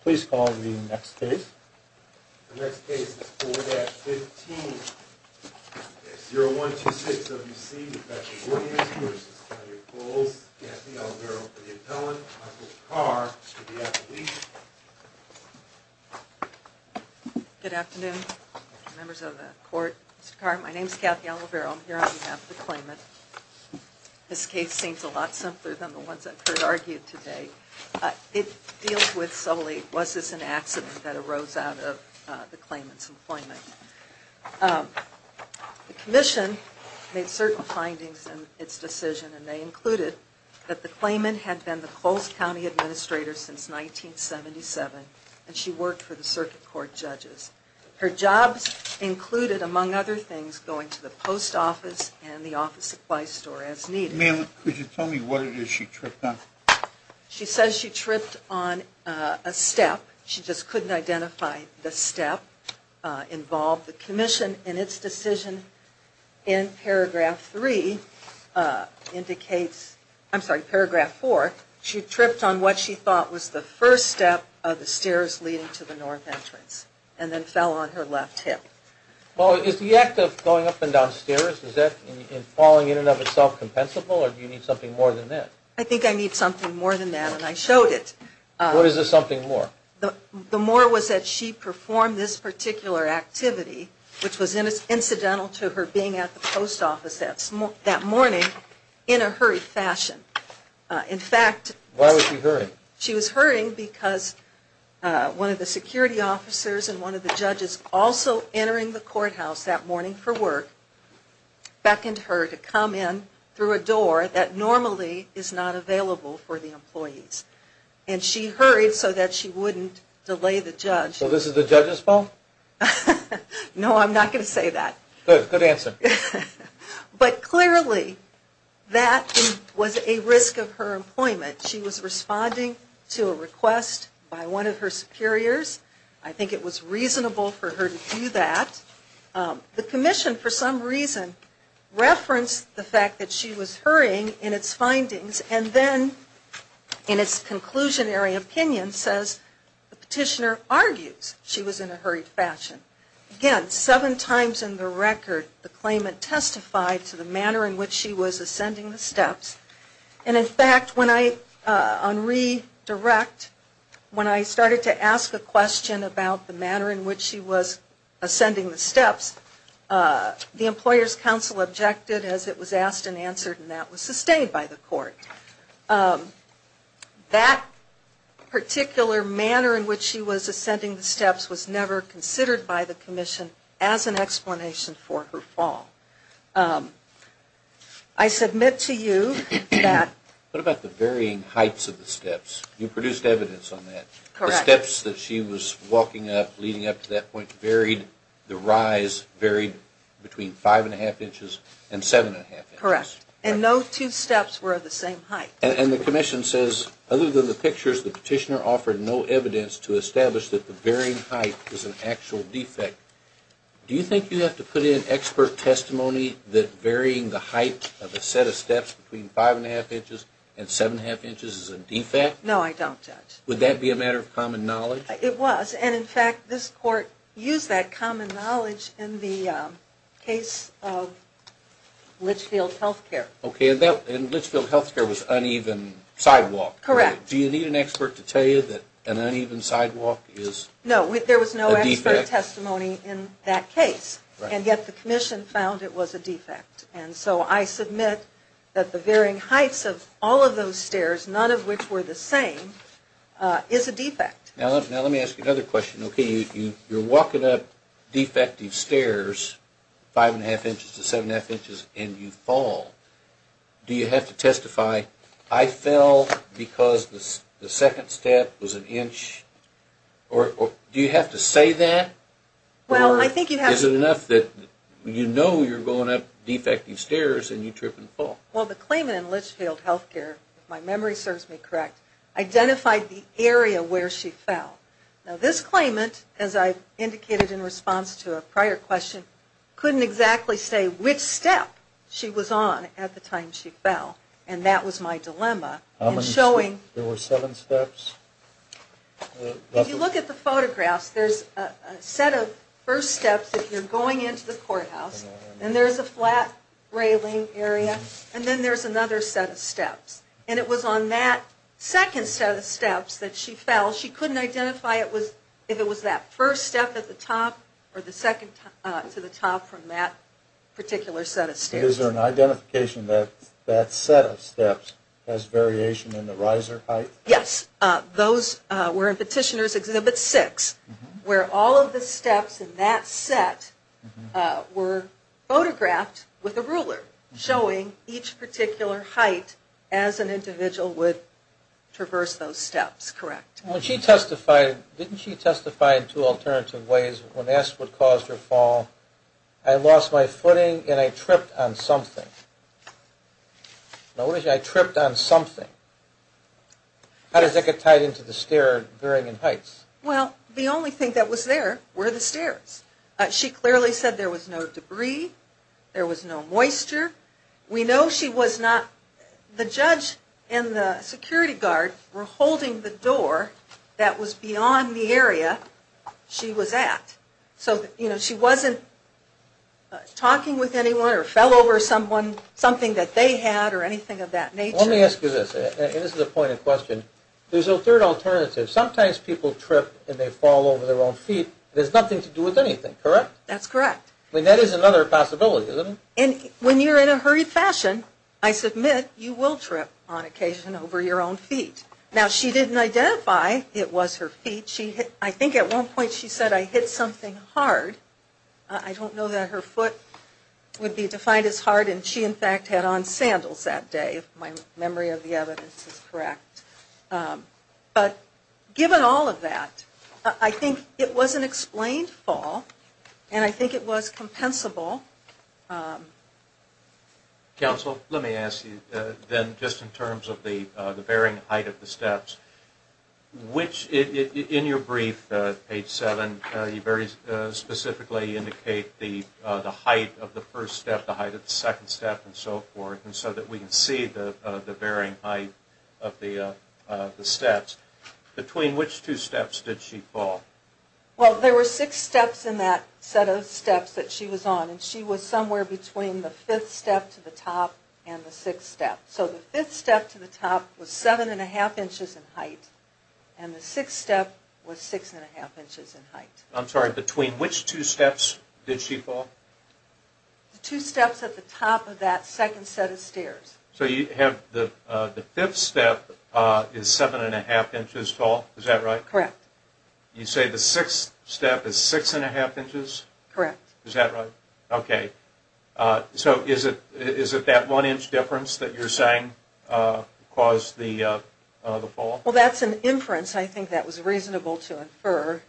please call the next case. The next case is 4-15-0126 W.C. Professional Organics v. Kathy Olivero for the appellant, Michael Carr for the appellee. Good afternoon members of the court. Mr. Carr, my name is Kathy Olivero. I'm here on behalf of the claimant. This case seems a lot simpler than the appellate. Was this an accident that arose out of the claimant's employment? The Commission made certain findings in its decision and they included that the claimant had been the Coles County Administrator since 1977 and she worked for the circuit court judges. Her jobs included, among other things, going to the post office and the office supply store as needed. Ma'am, could you tell me what it is she tripped on? She says she tripped on a step. She just couldn't identify the step involved. The Commission in its decision in paragraph 3 indicates, I'm sorry, paragraph 4, she tripped on what she thought was the first step of the stairs leading to the north entrance and then fell on her left hip. Well, is the act of going up and down stairs, is that in falling in and of itself compensable or do you need something more than that? I think I need something more than that and I showed it. What is the something more? The more was that she performed this particular activity, which was incidental to her being at the post office that morning in a hurried fashion. In fact, why was she hurrying? She was hurrying because one of the security officers and one of the judges also entering the store that normally is not available for the employees and she hurried so that she wouldn't delay the judge. So this is the judge's fault? No, I'm not going to say that. Good, good answer. But clearly that was a risk of her employment. She was responding to a request by one of her superiors. I think it was reasonable for her to do that. The Commission for some reason referenced the fact that she was hurrying in its findings and then in its conclusionary opinion says the petitioner argues she was in a hurried fashion. Again, seven times in the record the claimant testified to the manner in which she was ascending the steps and in fact when I, on redirect, when I started to ask a question about the manner in which she was ascending the steps, the Employers Council objected as it was asked and answered and that was sustained by the court. That particular manner in which she was ascending the steps was never considered by the Commission as an explanation for her fall. I submit to you that... What about the varying heights of the steps? You produced evidence on that. Correct. The steps that she was walking up, leading up to that point varied, the rise varied between five and a half inches. Correct. And no two steps were of the same height. And the Commission says other than the pictures the petitioner offered no evidence to establish that the varying height was an actual defect. Do you think you have to put in expert testimony that varying the height of a set of steps between five and a half inches and seven and a half inches is a defect? No, I don't judge. Would that be a matter of common knowledge? It was and in fact this court used that Okay, and in Litchfield healthcare was uneven sidewalk. Correct. Do you need an expert to tell you that an uneven sidewalk is a defect? No, there was no expert testimony in that case and yet the Commission found it was a defect. And so I submit that the varying heights of all of those stairs, none of which were the same, is a defect. Now let me ask you another question. Okay, you're walking up the stairs and you trip and fall. Do you have to testify I fell because the second step was an inch or do you have to say that? Is it enough that you know you're going up defective stairs and you trip and fall? Well, the claimant in Litchfield healthcare, if my memory serves me correct, identified the area where she fell. Now this claimant, as I indicated in response to a prior question, couldn't exactly say which step she was on at the time she fell and that was my dilemma. How many steps? There were seven steps? If you look at the photographs there's a set of first steps if you're going into the courthouse and there's a flat railing area and then there's another set of steps. And it was on that second set of steps that she fell. She couldn't identify if it was that first step at the top or the second to the top from that particular set of steps. Is there an identification that that set of steps has variation in the riser height? Yes. Those were in Petitioner's Exhibit 6 where all of the steps in that set were photographed with a ruler showing each particular height as an individual would traverse those steps, correct? When she testified, didn't she say in terms of ways, when asked what caused her fall, I lost my footing and I tripped on something. Notice I tripped on something. How does that get tied into the stair varying in heights? Well, the only thing that was there were the stairs. She clearly said there was no debris, there was no moisture. We know she was not, the judge and the security guard were holding the door that was beyond the area she was at. So, you know, she wasn't talking with anyone or fell over someone, something that they had or anything of that nature. Let me ask you this, and this is a point of question. There's a third alternative. Sometimes people trip and they fall over their own feet. There's nothing to do with anything, correct? That's correct. I mean, that is another possibility, isn't it? And when you're in a hurried fashion, I submit you will trip on occasion over your own feet. Now, she didn't identify it was her feet. I think at one point she said I hit something hard. I don't know that her foot would be defined as hard and she in fact had on sandals that day, if my memory of the evidence is correct. But given all of that, I think it was an accident. Counsel, let me ask you then just in terms of the varying height of the steps, which in your brief, page 7, you very specifically indicate the height of the first step, the height of the second step and so forth, and so that we can see the varying height of the steps. Between which two steps did she fall? Well, there were six steps in that set of steps that she was on, and she was somewhere between the fifth step to the top and the sixth step. So the fifth step to the top was 7 1⁄2 inches in height, and the sixth step was 6 1⁄2 inches in height. I'm sorry, between which two steps did she fall? The two steps at the top of that second set of stairs. So you have the fifth step is 7 1⁄2 inches tall, is that right? Correct. You say the sixth step is 6 1⁄2 inches? Correct. Is that right? Okay. So is it that one inch difference that you're saying caused the fall? Well, that's an inference. I think that was reasonable to infer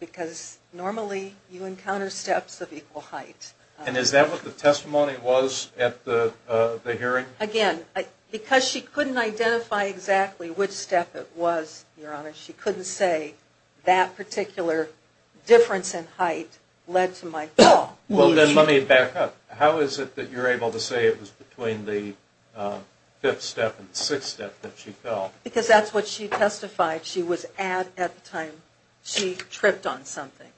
because normally you encounter steps of equal height. And is that what the testimony was at the hearing? Again, because she couldn't identify exactly which step it was, Your Honor, she couldn't say that particular difference in height led to my fall. Well, then let me back up. How is it that you're able to say it was between the fifth step and the sixth step that she fell? Because that's what she testified she was at at the time she tripped on something.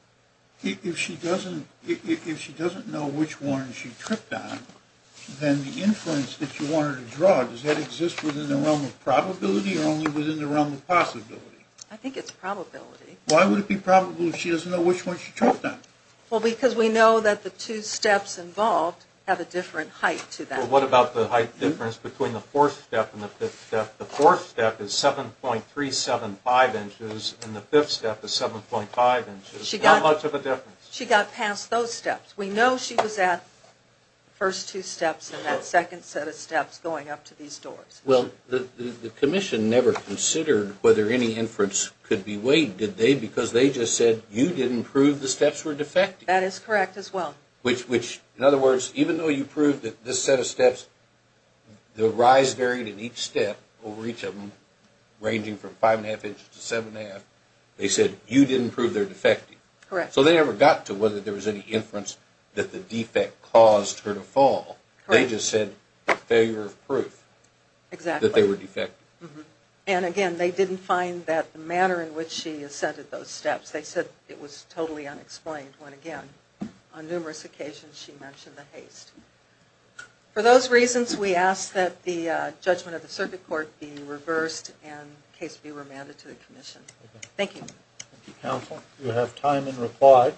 If she doesn't know which one she tripped on, then the inference that you wanted to draw, does that exist within the realm of probability or only within the realm of possibility? I think it's probability. Why would it be probable if she doesn't know which one she tripped on? Well, because we know that the two steps involved have a different height to that. Well, what about the height difference between the fourth step and the fifth step? The fourth step is 7.375 inches and the fifth step is 7.5 inches. How much of a difference? She got past those steps. We know she was at the first two steps and that second set of steps going up to these doors. Well, the commission never considered whether any inference could be weighed, did they? Because they just said you didn't prove the steps were defective. That is correct as well. Which, in other words, even though you proved that this set of steps, the rise varied in each step, over each of them, ranging from 5.5 inches to 7.5, they said you didn't prove they're defective. Correct. So they never got to whether there was any inference that the defect caused her to fall. Correct. They just said failure of proof. Exactly. That they were defective. And, again, they didn't find that the manner in which she ascended those steps. They said it was totally unexplained when, again, on numerous occasions she mentioned the haste. For those reasons, we ask that the judgment of the circuit court be reversed and the case be remanded to the commission. Thank you. Thank you, counsel. We have time in reply.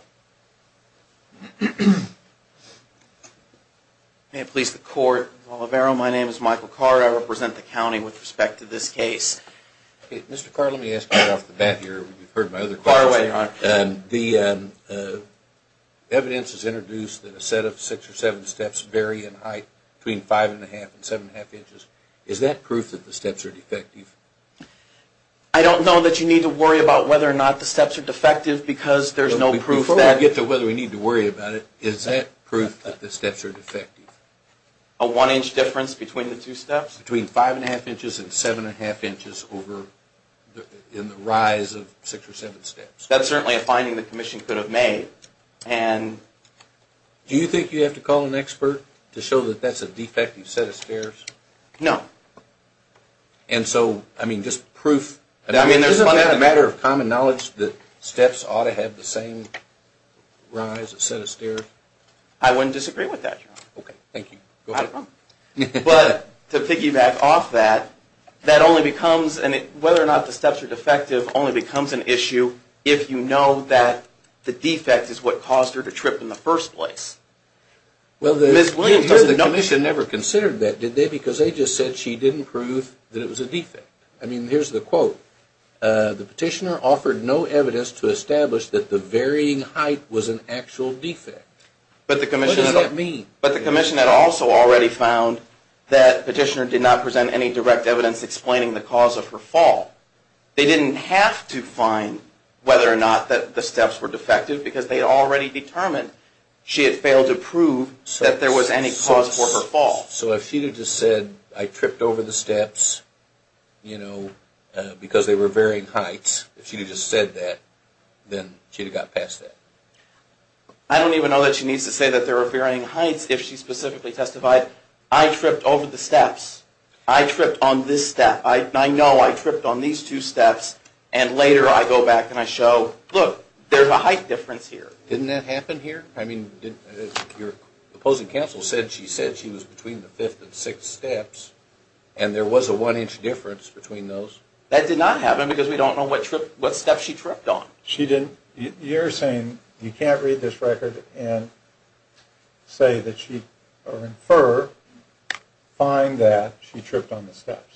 May it please the court. My name is Michael Carter. I represent the county with respect to this case. Mr. Carter, let me ask you right off the bat here. You've heard my other questions. Go right ahead, Your Honor. The evidence has introduced that a set of six or seven steps vary in height between 5.5 and 7.5 inches. Is that proof that the steps are defective? I don't know that you need to worry about whether or not the steps are defective. Before I get to whether we need to worry about it, is that proof that the steps are defective? A one-inch difference between the two steps? Between 5.5 inches and 7.5 inches in the rise of six or seven steps. That's certainly a finding the commission could have made. Do you think you have to call an expert to show that that's a defective set of stairs? No. And so, I mean, just proof. Isn't that a matter of common knowledge that steps ought to have the same rise, a set of stairs? I wouldn't disagree with that, Your Honor. Okay. Thank you. But to piggyback off that, whether or not the steps are defective only becomes an issue if you know that the defect is what caused her to trip in the first place. Ms. Williams, the commission never considered that, did they? Because they just said she didn't prove that it was a defect. I mean, here's the quote. The petitioner offered no evidence to establish that the varying height was an actual defect. What does that mean? But the commission had also already found that petitioner did not present any direct evidence explaining the cause of her fall. They didn't have to find whether or not the steps were defective because they had already determined she had failed to prove that there was any cause for her fall. So if she had just said, I tripped over the steps, you know, because they were varying heights. If she had just said that, then she would have got past that. I don't even know that she needs to say that there were varying heights if she specifically testified, I tripped over the steps. I tripped on this step. I know I tripped on these two steps. And later I go back and I show, look, there's a height difference here. Didn't that happen here? I mean, your opposing counsel said she said she was between the fifth and sixth steps and there was a one-inch difference between those. That did not happen because we don't know what step she tripped on. You're saying you can't read this record and say that she, or infer, find that she tripped on the steps.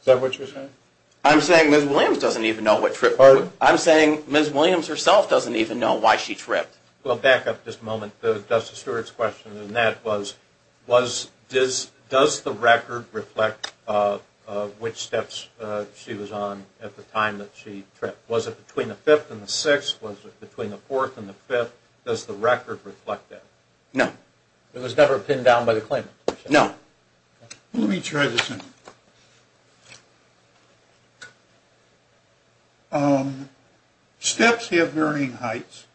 Is that what you're saying? I'm saying Ms. Williams doesn't even know what trip. Pardon? I'm saying Ms. Williams herself doesn't even know why she tripped. Well, back up just a moment. Justice Stewart's question in that was, does the record reflect which steps she was on at the time that she tripped? Was it between the fifth and the sixth? Was it between the fourth and the fifth? Does the record reflect that? No. It was never pinned down by the claimant? No. Let me try this again. Steps have varying heights.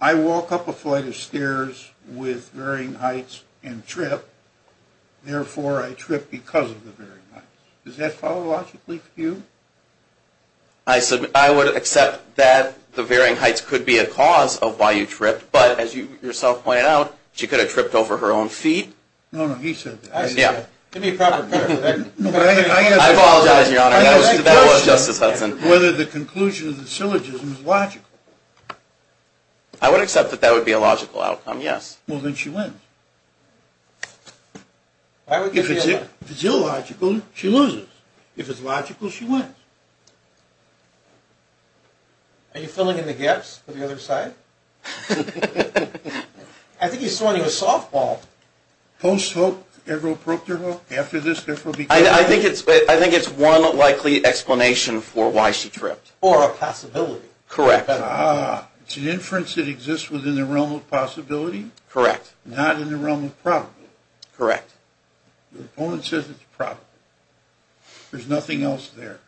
I walk up a flight of stairs with varying heights and trip, therefore I trip because of the varying heights. Does that follow logically for you? I would accept that the varying heights could be a cause of why you tripped, but as you yourself pointed out, she could have tripped over her own feet. No, no, he said that. Give me a proper clarification. I apologize, Your Honor. That was Justice Hudson. Whether the conclusion of the syllogism is logical. I would accept that that would be a logical outcome, yes. Well, then she wins. If it's illogical, she loses. If it's logical, she wins. Are you filling in the gaps on the other side? I think he's throwing you a softball. Post-hope, Everett broke their hope. After this, therefore, because of that. I think it's one likely explanation for why she tripped. Or a possibility. Correct. It's an inference that exists within the realm of possibility. Correct. Not in the realm of probability. Correct. The opponent says it's a probability. There's nothing else there.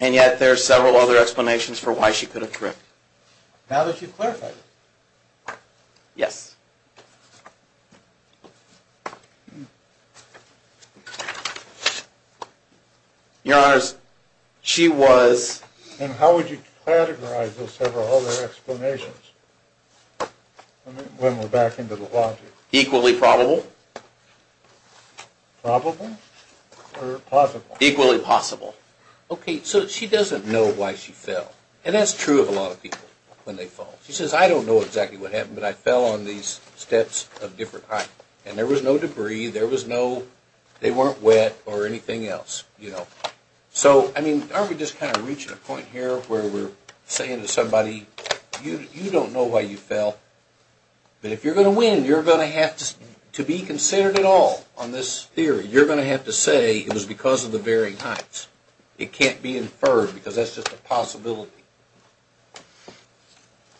And yet there are several other explanations for why she could have tripped. Now that you've clarified it. Yes. Your Honors, she was. And how would you categorize those several other explanations? When we're back into the logic. Equally probable. Probable? Or possible? Equally possible. Okay, so she doesn't know why she fell. And that's true of a lot of people when they fall. She says, I don't know exactly what happened, but I fell on these steps of different heights. And there was no debris. There was no, they weren't wet or anything else. So, I mean, aren't we just kind of reaching a point here where we're saying to somebody, you don't know why you fell. But if you're going to win, you're going to have to be considered at all on this theory. You're going to have to say it was because of the varying heights. It can't be inferred because that's just a possibility.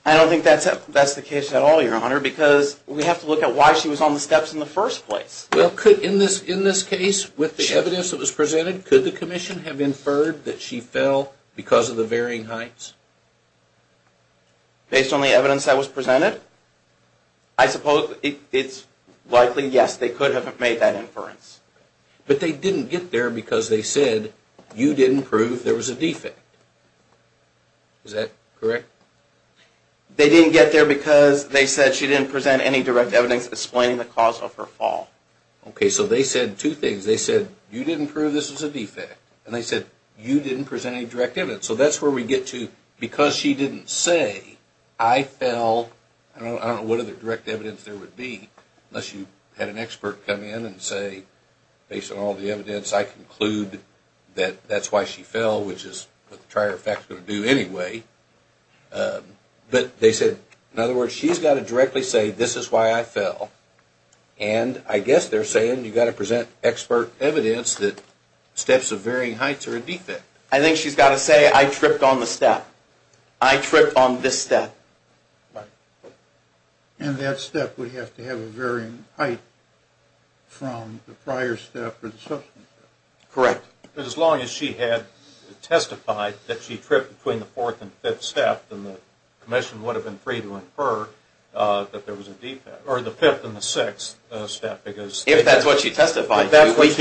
I don't think that's the case at all, Your Honor, because we have to look at why she was on the steps in the first place. Well, in this case, with the evidence that was presented, could the commission have inferred that she fell because of the varying heights? Based on the evidence that was presented? I suppose it's likely, yes, they could have made that inference. But they didn't get there because they said you didn't prove there was a defect. Is that correct? They didn't get there because they said she didn't present any direct evidence explaining the cause of her fall. Okay, so they said two things. They said you didn't prove this was a defect, and they said you didn't present any direct evidence. So that's where we get to, because she didn't say, I fell, I don't know what other direct evidence there would be, unless you had an expert come in and say, based on all the evidence, I conclude that that's why she fell, which is what the prior effect is going to do anyway. But they said, in other words, she's got to directly say, this is why I fell. And I guess they're saying you've got to present expert evidence that steps of varying heights are a defect. I think she's got to say, I tripped on the step. I tripped on this step. Right. And that step would have to have a varying height from the prior step or the subsequent step. Correct. As long as she had testified that she tripped between the fourth and fifth step, then the commission would have been free to infer that there was a defect, or the fifth and the sixth step, because... If that's what she testified to, we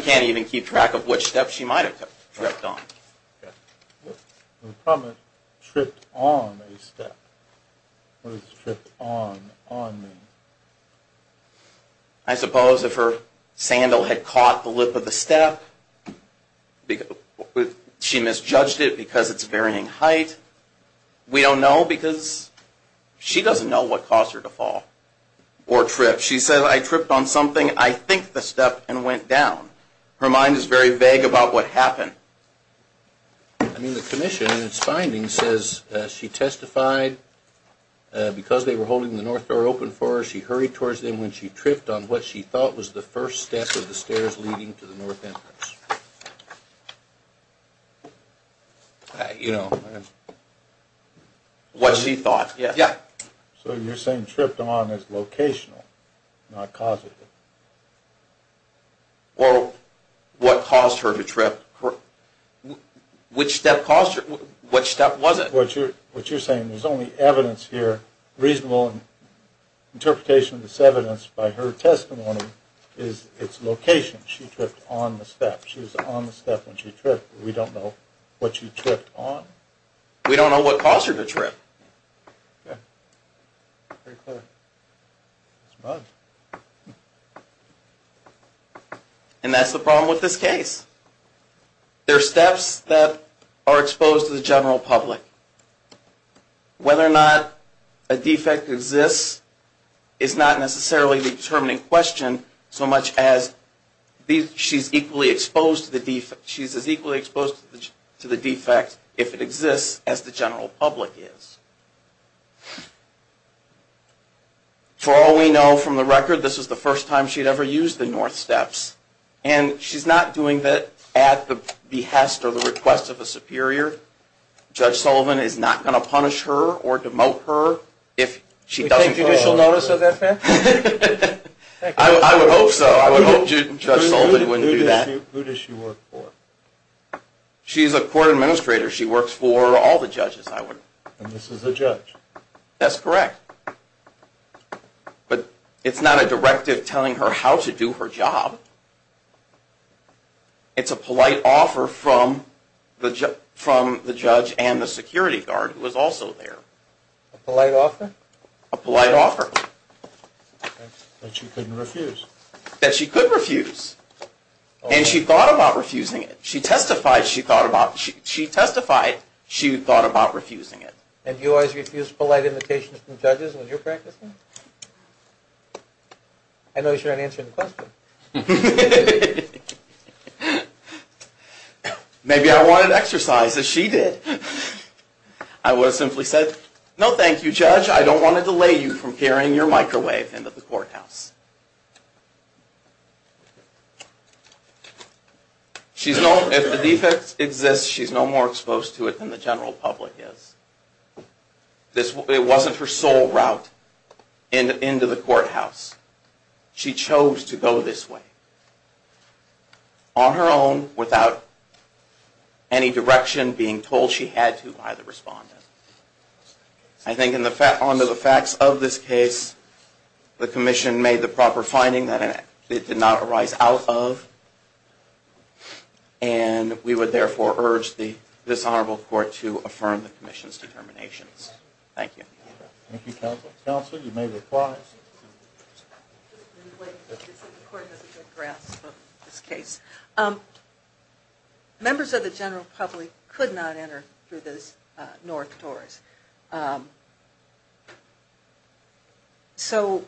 can't even keep track of which step she might have tripped on. The problem is, tripped on a step. What does tripped on mean? I suppose if her sandal had caught the lip of the step, she misjudged it because it's varying height. We don't know because she doesn't know what caused her to fall or trip. She said, I tripped on something, I think the step, and went down. Her mind is very vague about what happened. I mean, the commission in its findings says she testified, because they were holding the north door open for her, she hurried towards them when she tripped on what she thought was the first step of the stairs leading to the north entrance. You know. What she thought. Yeah. So you're saying tripped on is locational, not causative. Well, what caused her to trip... Which step caused her... What step was it? What you're saying, there's only evidence here, reasonable interpretation of this evidence by her testimony, is it's location. She tripped on the step. She was on the step when she tripped. We don't know what she tripped on. We don't know what caused her to trip. And that's the problem with this case. There are steps that are exposed to the general public. Whether or not a defect exists is not necessarily the determining question, so much as she's equally exposed to the defect if it exists, as the general public is. For all we know from the record, this was the first time she'd ever used the north steps. And she's not doing that at the behest or the request of a superior. Judge Sullivan is not going to punish her or demote her if she doesn't... Is there a judicial notice of that, ma'am? I would hope so. I would hope Judge Sullivan wouldn't do that. Who does she work for? She's a court administrator. She works for all the judges, I would... And this is a judge? That's correct. But it's not a directive telling her how to do her job. It's a polite offer from the judge and the security guard, who is also there. A polite offer? A polite offer. That she couldn't refuse? That she could refuse. And she thought about refusing it. She testified she thought about... She testified she thought about refusing it. And do you always refuse polite invitations from judges when you're practicing? I noticed you're not answering the question. Maybe I wanted exercise, as she did. I would have simply said, No, thank you, judge. I don't want to delay you from carrying your microwave into the courthouse. If the defect exists, she's no more exposed to it than the general public is. It wasn't her sole route into the courthouse. She chose to go this way. On her own, without any direction being told she had to by the respondent. I think on the facts of this case, the commission made the proper finding that it did not arise out of. And we would, therefore, urge this honorable court to affirm the commission's determinations. Thank you. Thank you, counsel. Counsel, you may reply. The court has a good grasp of this case. Members of the general public could not enter through those north doors. So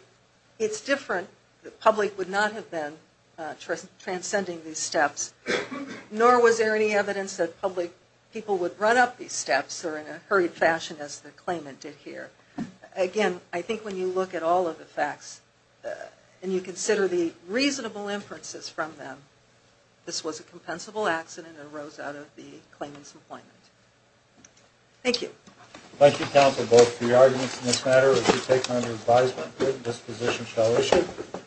it's different. The public would not have been transcending these steps, nor was there any evidence that public people would run up these steps or in a hurried fashion as the claimant did here. Again, I think when you look at all of the facts and you consider the reasonable inferences from them, this was a compensable accident that arose out of the claimant's employment. Thank you. Thank you, counsel, both for your arguments in this matter. As you take on your advisement, this position shall issue.